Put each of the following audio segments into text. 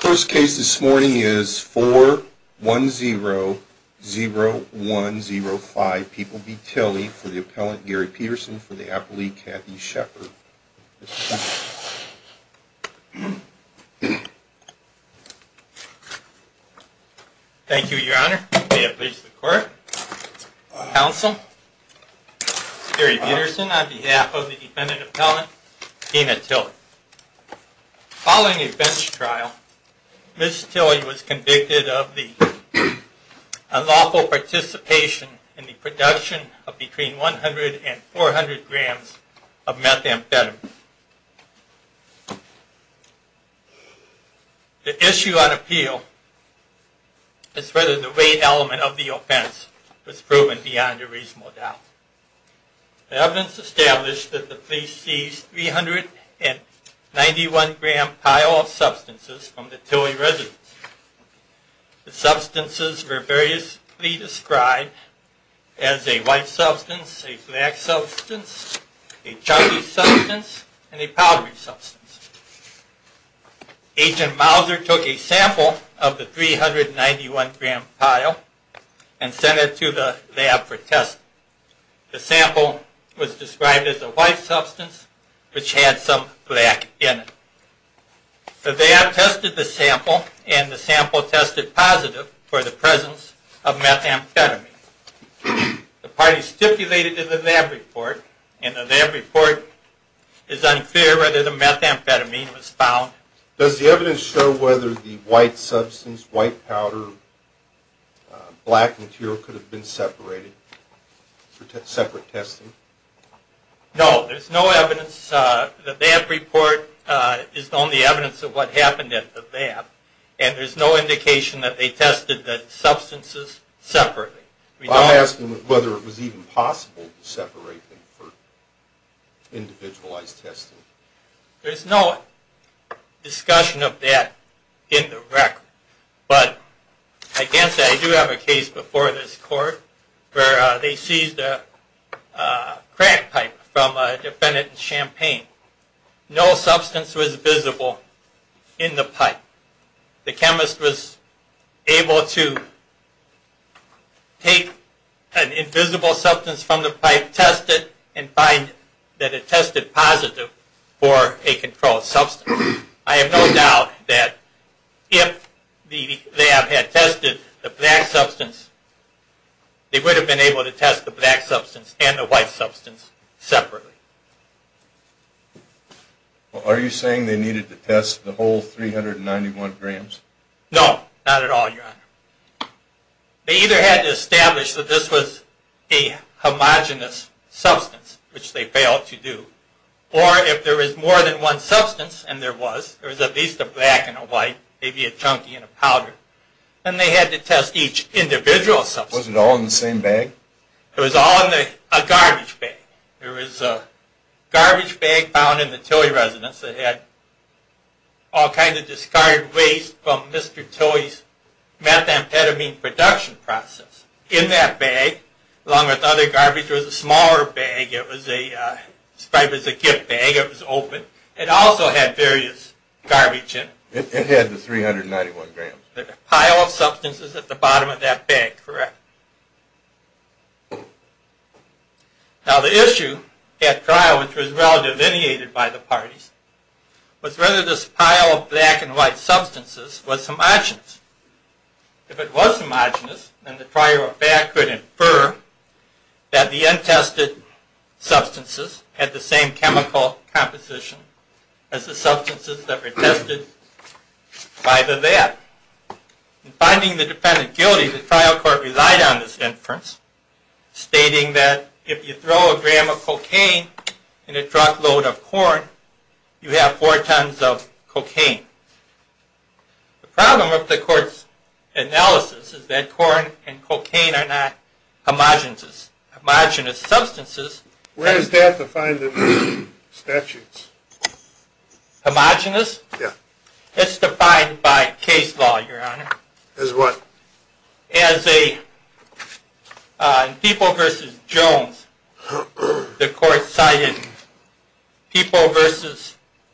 First case this morning is 4100105 People v. Tilley for the appellant Gary Peterson for the appellee Kathy Shepard. Thank you, your honor. May it please the court. Counsel, Gary Peterson on behalf of the defendant appellant Dina Tilley. Following a bench trial, Ms. Tilley was convicted of the unlawful participation in the production of between 100 and 400 grams of methamphetamine. The issue on appeal is whether the weight element of the offense was proven beyond a reasonable doubt. The evidence established that the police seized 391 gram pile of substances from the Tilley residence. The substances were variously described as a white substance, a black substance, a chocolate substance, and a powdery substance. Agent Mauser took a sample of the 391 gram pile and sent it to the lab for testing. The sample was described as a white substance which had some black in it. The lab tested the sample and the sample tested positive for the presence of methamphetamine. The party stipulated in the lab report and the lab report is unclear whether the methamphetamine was found. Does the evidence show whether the white substance, white powder, black material could have been separated for separate testing? No, there's no evidence. The lab report is the only evidence of what happened at the lab and there's no indication that they tested the substances separately. I'm asking whether it was even possible to separate them for individualized testing. There's no discussion of that in the record, but I do have a case before this court where they seized a crack pipe from a defendant in Champaign. No substance was visible in the pipe. The chemist was able to take an invisible substance from the pipe, test it, and find that it tested positive for a controlled substance. I have no doubt that if the lab had tested the black substance, they would have been able to test the black substance and the white substance separately. Are you saying they needed to test the whole 391 grams? No, not at all, Your Honor. They either had to establish that this was a homogenous substance, which they failed to do, or if there was more than one substance and there was, there was at least a black and a white, maybe a chunky and a powder, then they had to test each individual substance. Was it all in the same bag? It was all in a garbage bag. There was a garbage bag found in the Tilley residence that had all kinds of discarded waste from Mr. Tilley's methamphetamine production process. In that bag, along with other garbage, there was a smaller bag. It was described as a gift bag. It was open. It also had various garbage in it. It had the 391 grams. A pile of substances at the bottom of that bag, correct. Now the issue at trial, which was well delineated by the parties, was whether this pile of black and white substances was homogenous. If it was homogenous, then the trial could infer that the untested substances had the same chemical composition as the substances that were tested by the lab. In finding the defendant guilty, the trial court relied on this inference, stating that if you throw a gram of cocaine in a truckload of corn, you have four tons of cocaine. The problem with the court's analysis is that corn and cocaine are not homogenous. Homogenous substances... Where is that defined in the statutes? Homogenous? It's defined by case law, Your Honor. As what? As a... In Peeple v. Jones, the court cited Peeple v.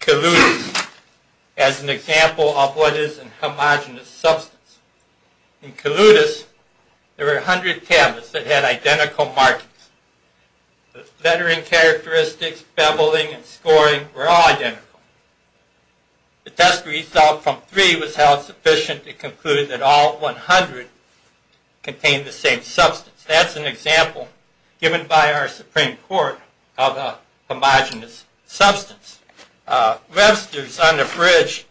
Kaloudis as an example of what is a homogenous substance. In Kaloudis, there were 100 tablets that had identical markings. The lettering characteristics, beveling, and scoring were all identical. The test result from three was held sufficient to conclude that all 100 contained the same substance. That's an example given by our Supreme Court of a homogenous substance. Webster's on the Bridge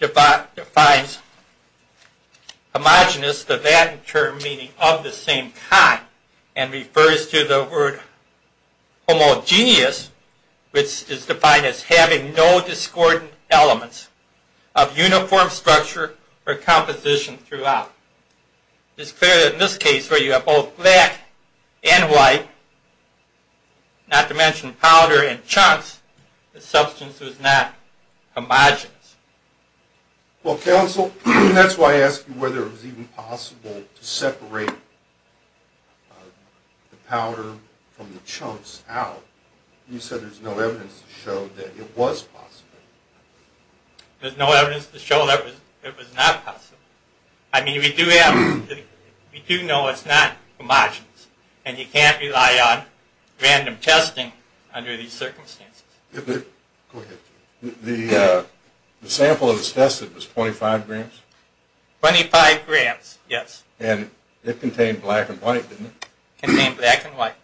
defines homogenous, the Latin term meaning of the same kind, and refers to the word homogenous, which is defined as having no discordant elements of uniform structure or composition throughout. It's clear that in this case where you have both black and white, not to mention powder and chunks, the substance was not homogenous. Well, Counsel, that's why I asked you whether it was even possible to separate the powder from the chunks out. You said there's no evidence to show that it was possible. There's no evidence to show that it was not possible. I mean, we do know it's not homogenous, and you can't rely on random testing under these circumstances. Go ahead. The sample that was tested was 25 grams? 25 grams, yes. And it contained black and white, didn't it? It contained black and white.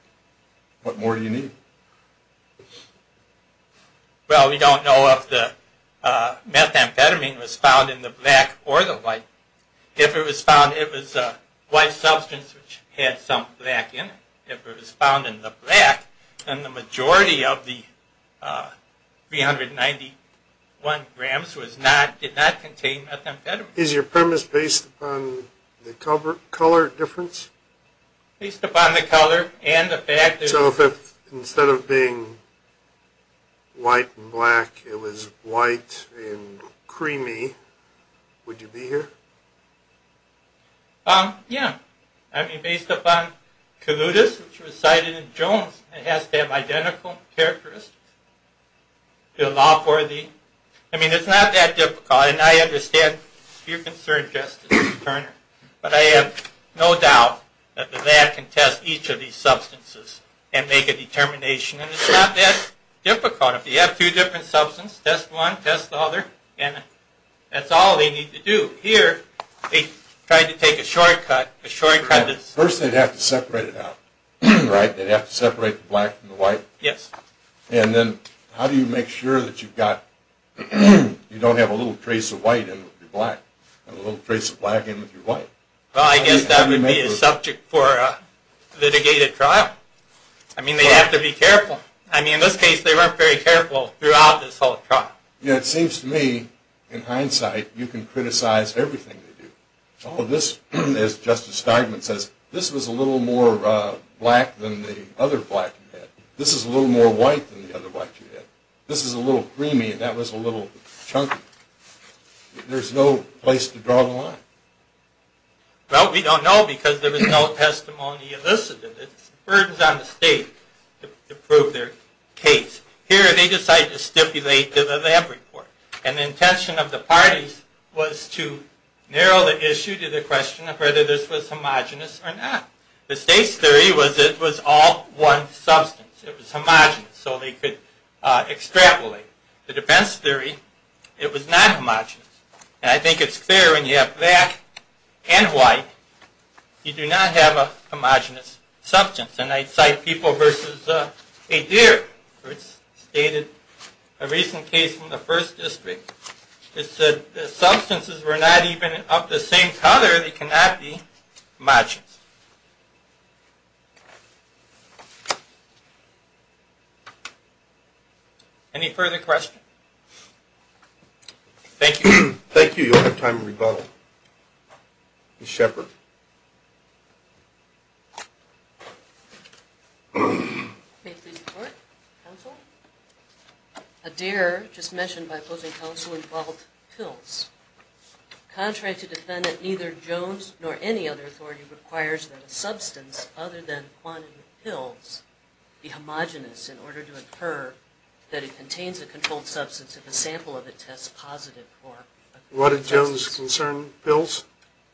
What more do you need? Well, we don't know if the methamphetamine was found in the black or the white. If it was found, it was a white substance which had some black in it. If it was found in the black, then the majority of the 391 grams did not contain methamphetamine. Is your premise based upon the color difference? Based upon the color and the fact that... Instead of being white and black, it was white and creamy. Would you be here? Yeah. I mean, based upon colludas, which was cited in Jones, it has to have identical characteristics to allow for the... I mean, it's not that difficult, and I understand your concern, Justice Turner. But I have no doubt that the lab can test each of these substances and make a determination. And it's not that difficult. If you have two different substances, test one, test the other, and that's all they need to do. Here, they tried to take a shortcut. First, they'd have to separate it out, right? They'd have to separate the black and the white? Yes. And then, how do you make sure that you've got... You don't have a little trace of white in with your black, and a little trace of black in with your white. Well, I guess that would be a subject for a litigated trial. I mean, they have to be careful. I mean, in this case, they weren't very careful throughout this whole trial. Yeah, it seems to me, in hindsight, you can criticize everything they do. All of this, as Justice Starkman says, this was a little more black than the other black you had. This is a little more white than the other white you had. This is a little creamy, and that was a little chunky. There's no place to draw the line. Well, we don't know, because there was no testimony elicited. It's burdens on the state to prove their case. Here, they decided to stipulate the lab report. And the intention of the parties was to narrow the issue to the question of whether this was homogenous or not. The state's theory was that it was all one substance. It was homogenous, so they could extrapolate. The defense theory, it was not homogenous. And I think it's clear when you have black and white, you do not have a homogenous substance. And I cite People v. Adair, which stated a recent case from the 1st District. It said the substances were not even of the same color. They cannot be homogenous. Any further questions? Thank you. Thank you. You don't have time to rebuttal. Ms. Shepard. May I please report? Counsel? Adair, just mentioned by opposing counsel, involved pills. Contrary to defendant neither Jones nor any other authority required, that a substance other than quantity of pills be homogenous in order to occur, that it contains a controlled substance if a sample of it tests positive. What did Jones concern? Pills?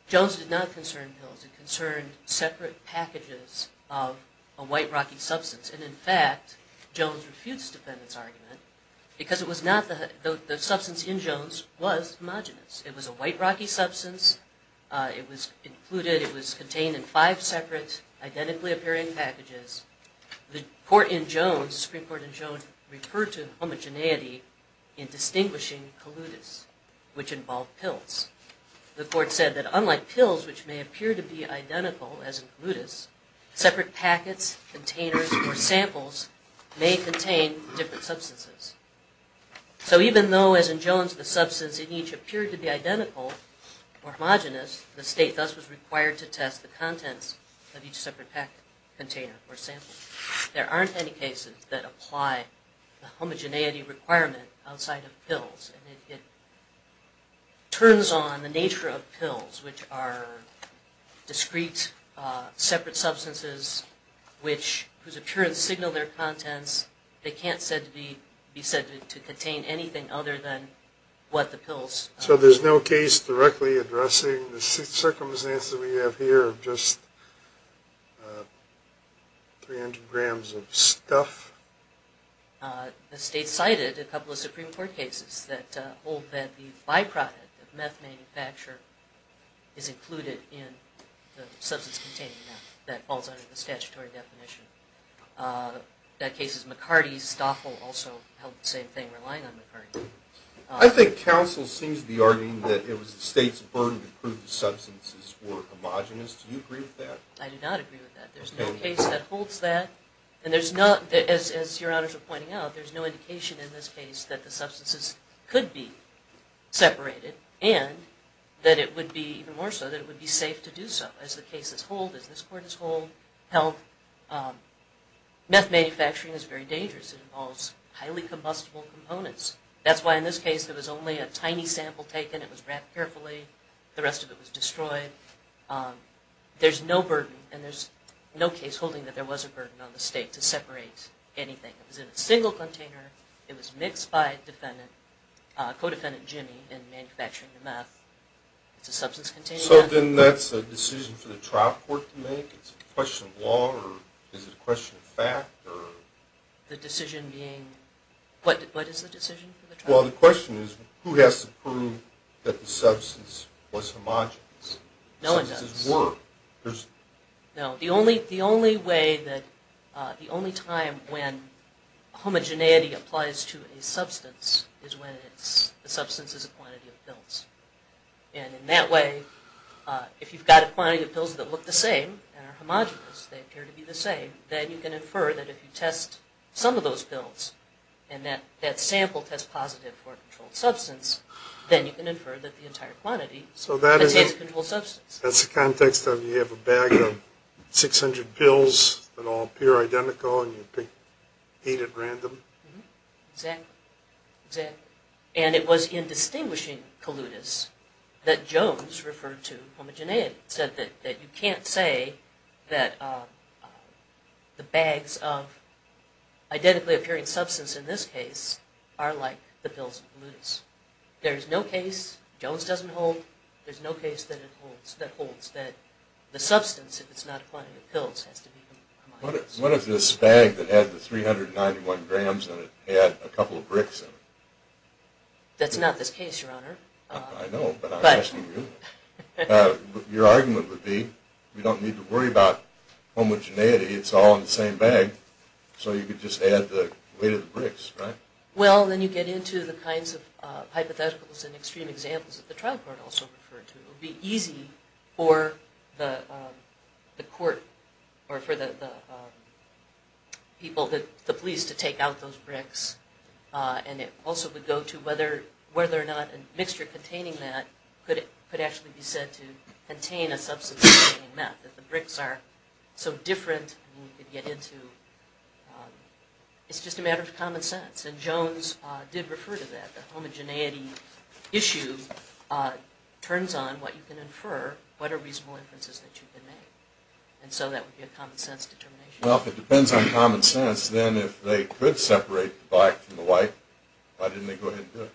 Jones did not concern pills. It concerned separate packages of a white rocky substance. And in fact, Jones refutes defendant's argument because the substance in Jones was homogenous. It was a white rocky substance. It was included, it was contained in five separate, identically appearing packages. The court in Jones, Supreme Court in Jones, referred to homogeneity in distinguishing colludus, which involved pills. The court said that unlike pills, which may appear to be identical, as in colludus, separate packets, containers, or samples may contain different substances. So even though, as in Jones, the substance in each appeared to be identical or homogenous, the state thus was required to test the contents of each separate packet, container, or sample. There aren't any cases that apply the homogeneity requirement outside of pills. And it turns on the nature of pills, which are discrete, separate substances, whose occurrence signal their contents. They can't be said to contain anything other than what the pills. So there's no case directly addressing the circumstances that we have here of just 300 grams of stuff? The state cited a couple of Supreme Court cases that hold that the byproduct of meth manufacture is included in the substance contained in meth. That falls under the statutory definition. That case is McCarty-Stoffel, also held the same thing, relying on McCarty. I think counsel seems to be arguing that it was the state's burden to prove the substances were homogenous. Do you agree with that? I do not agree with that. There's no case that holds that. And there's not, as your honors are pointing out, there's no indication in this case that the substances could be separated and that it would be, even more so, that it would be safe to do so. As the cases hold, as this court has held, meth manufacturing is very dangerous. It involves highly combustible components. That's why in this case there was only a tiny sample taken. It was wrapped carefully. The rest of it was destroyed. There's no burden, and there's no case holding that there was a burden on the state to separate anything. It was in a single container. It was mixed by co-defendant Jimmy in manufacturing the meth. It's a substance containing meth. So then that's a decision for the trial court to make? It's a question of law, or is it a question of fact? The decision being, what is the decision for the trial court? Well, the question is, who has to prove that the substance was homogenous? No one does. The substances were. No. The only time when homogeneity applies to a substance is when the substance is a quantity of pills. And in that way, if you've got a quantity of pills that look the same and are homogenous, they appear to be the same, then you can infer that if you test some of those pills and that sample tests positive for a controlled substance, then you can infer that the entire quantity contains a controlled substance. So that's the context of you have a bag of 600 pills that all appear identical and you eat at random? Exactly. And it was in distinguishing colludas that Jones referred to homogeneity. He said that you can't say that the bags of identically appearing substance in this case are like the pills in colludas. There's no case Jones doesn't hold. There's no case that holds that the substance, if it's not a quantity of pills, has to be homogenous. What if this bag that had the 391 grams in it had a couple of bricks in it? That's not this case, Your Honor. I know, but I'm asking you. Your argument would be, we don't need to worry about homogeneity. It's all in the same bag, so you could just add the weight of the bricks, right? Well, then you get into the kinds of hypotheticals and extreme examples that the trial court also referred to. It would be easy for the police to take out those bricks, and it also would go to whether or not a mixture containing that could actually be said to contain a substance. It's just a matter of common sense. And Jones did refer to that. The homogeneity issue turns on what you can infer, what are reasonable inferences that you can make. And so that would be a common sense determination. Well, if it depends on common sense, then if they could separate the black from the white, why didn't they go ahead and do it?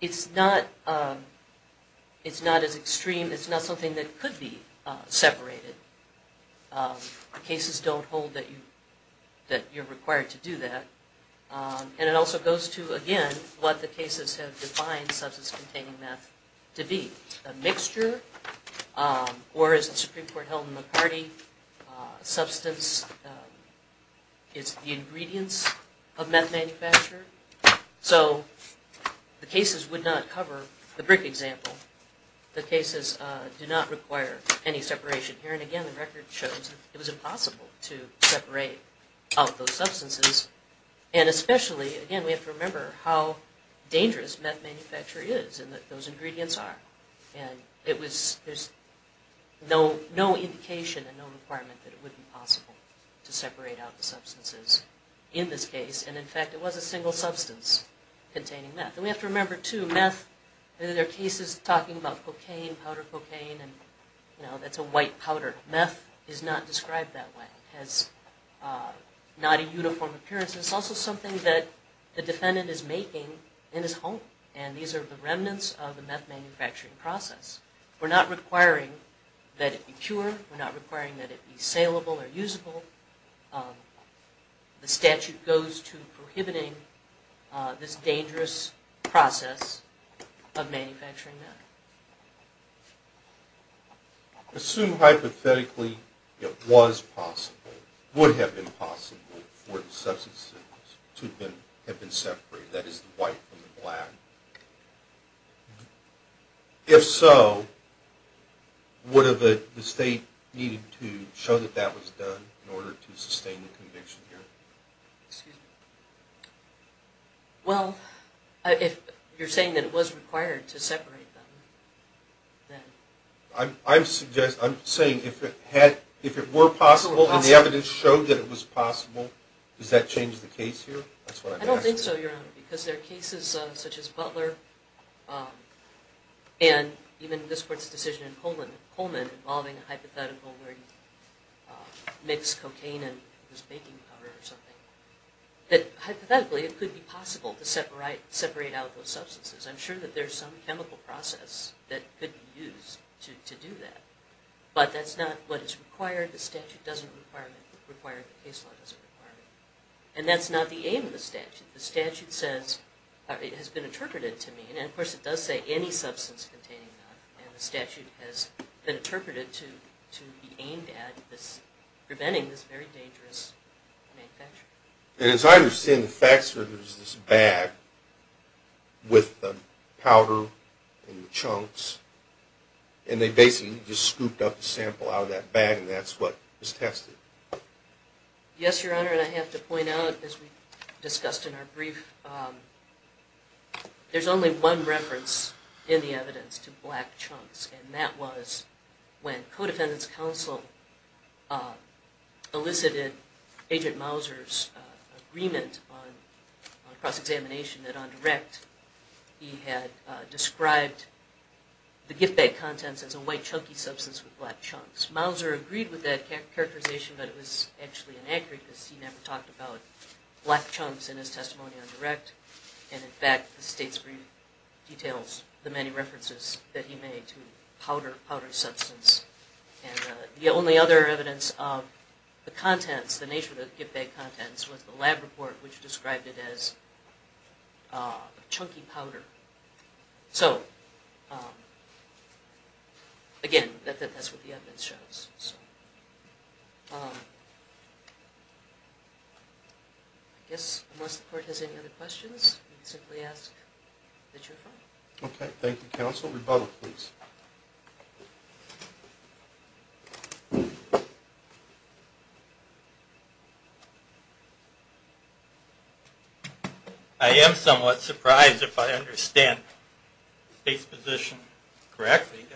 It's not as extreme. It's not something that could be separated. The cases don't hold that you're required to do that. And it also goes to, again, what the cases have defined substance-containing meth to be. It's a mixture, or as the Supreme Court held in McCarty, substance is the ingredients of meth manufacture. So the cases would not cover the brick example. The cases do not require any separation here. And again, the record shows it was impossible to separate out those substances. And especially, again, we have to remember how dangerous meth manufacture is and that those ingredients are. And there's no indication and no requirement that it would be possible to separate out the substances in this case. And in fact, it was a single substance containing meth. And we have to remember, too, meth, there are cases talking about cocaine, powder cocaine, and that's a white powder. Meth is not described that way. It has not a uniform appearance. It's also something that the defendant is making in his home. And these are the remnants of the meth manufacturing process. We're not requiring that it be pure. We're not requiring that it be saleable or usable. The statute goes to prohibiting this dangerous process of manufacturing meth. Assume hypothetically it was possible, would have been possible, for the substances to have been separated, that is, the white from the black. If so, would the state need to show that that was done in order to sustain the conviction here? Excuse me. Well, if you're saying that it was required to separate them, then... I'm saying if it were possible and the evidence showed that it was possible, does that change the case here? I don't think so, Your Honor, because there are cases such as Butler, and even this court's decision in Coleman involving a hypothetical where you mix cocaine and this baking powder or something, that hypothetically it could be possible to separate out those substances. I'm sure that there's some chemical process that could be used to do that. But that's not what is required. The statute doesn't require it. The case law doesn't require it. And that's not the aim of the statute. The statute says, it has been interpreted to mean, and of course it does say any substance containing that, and the statute has been interpreted to be aimed at preventing this very dangerous manufacture. And as I understand the facts are there's this bag with the powder and the chunks, and they basically just scooped up the sample out of that bag and that's what was tested. Yes, Your Honor, and I have to point out, as we discussed in our brief, there's only one reference in the evidence to black chunks, and that was when Codefendant's Counsel elicited Agent Mauser's agreement on cross-examination that on direct he had described the gift bag contents as a white chunky substance with black chunks. Mauser agreed with that characterization, but it was actually inaccurate because he never talked about black chunks in his testimony on direct, and in fact the state's brief details the many references that he made to powder substance. And the only other evidence of the contents, the nature of the gift bag contents, was the lab report which described it as chunky powder. So, again, that's what the evidence shows. I guess, unless the Court has any other questions, I'll simply ask that you're done. Okay, thank you, Counsel. Rebuttal, please. I am somewhat surprised, if I understand the State's position correctly,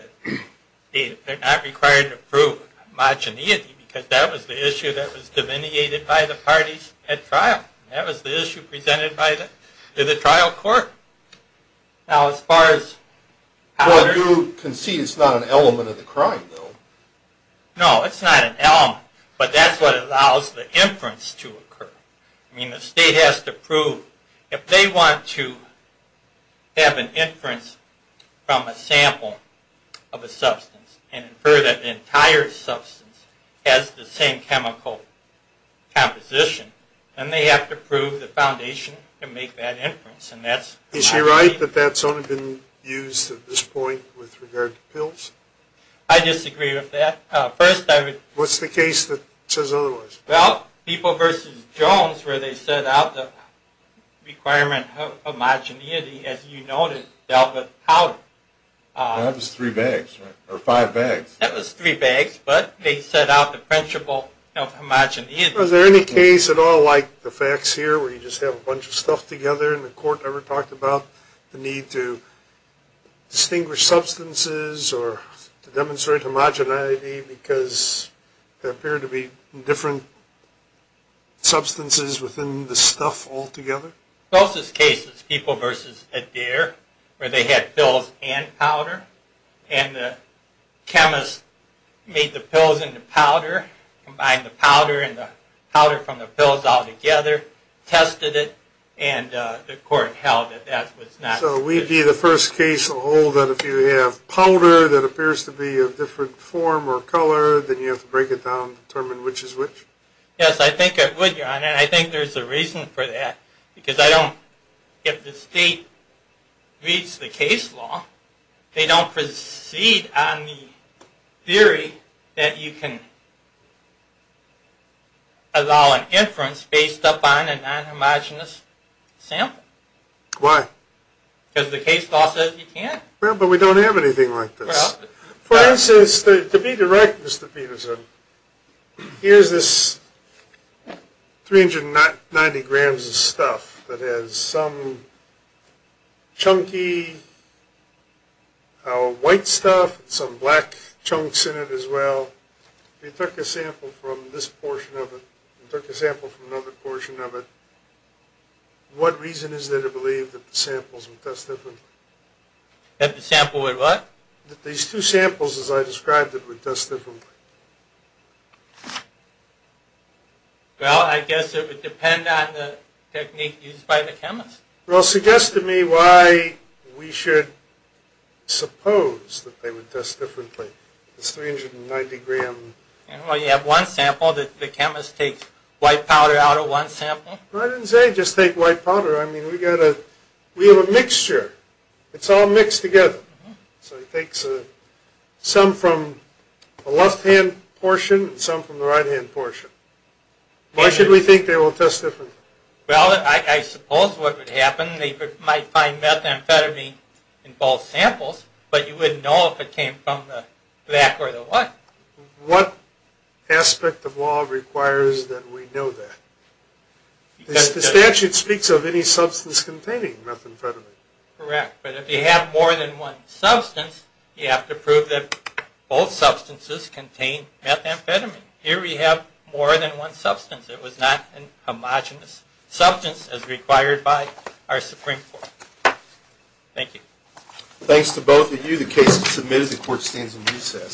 that they're not required to prove homogeneity, because that was the issue that was delineated by the parties at trial. That was the issue presented to the trial court. Now, as far as powder... Well, you can see it's not an element of the crime, though. No, it's not an element, but that's what allows the inference to occur. I mean, the State has to prove... If they want to have an inference from a sample of a substance and infer that the entire substance has the same chemical composition, then they have to prove the foundation to make that inference, and that's... Is she right that that's only been used at this point with regard to pills? I disagree with that. First, I would... What's the case that says otherwise? Well, People v. Jones, where they set out the requirement of homogeneity, as you noted, dealt with powder. That was three bags, or five bags. That was three bags, but they set out the principle of homogeneity. Was there any case at all like the facts here, where you just have a bunch of stuff together and the court never talked about the need to distinguish substances or to demonstrate homogeneity because there appear to be different substances within the stuff altogether? The closest case is People v. Adair, where they had pills and powder, and the chemists made the pills into powder, combined the powder and the powder from the pills altogether, tested it, and the court held that that was not sufficient. So we'd be the first case to hold that if you have powder that appears to be of different form or color, then you have to break it down and determine which is which? Yes, I think I would, Your Honor, and I think there's a reason for that, because I don't... If the state reads the case law, they don't proceed on the theory that you can allow an inference based upon a non-homogenous sample. Why? Because the case law says you can't. Well, but we don't have anything like this. For instance, to be direct, Mr. Peterson, here's this 390 grams of stuff that has some chunky white stuff and some black chunks in it as well. If you took a sample from this portion of it and took a sample from another portion of it, what reason is there to believe that the samples would test differently? That the sample would what? That these two samples, as I described it, would test differently. Well, I guess it would depend on the technique used by the chemist. Well, suggest to me why we should suppose that they would test differently. It's 390 grams. Well, you have one sample. The chemist takes white powder out of one sample. I didn't say just take white powder. I mean, we have a mixture. It's all mixed together. So he takes some from the left-hand portion and some from the right-hand portion. Why should we think they will test differently? Well, I suppose what would happen, they might find methamphetamine in both samples, but you wouldn't know if it came from the black or the white. What aspect of law requires that we know that? The statute speaks of any substance containing methamphetamine. Correct, but if you have more than one substance, you have to prove that both substances contain methamphetamine. Here we have more than one substance. It was not a homogenous substance as required by our Supreme Court. Thank you. Thanks to both of you. The case is submitted. The court stands in recess.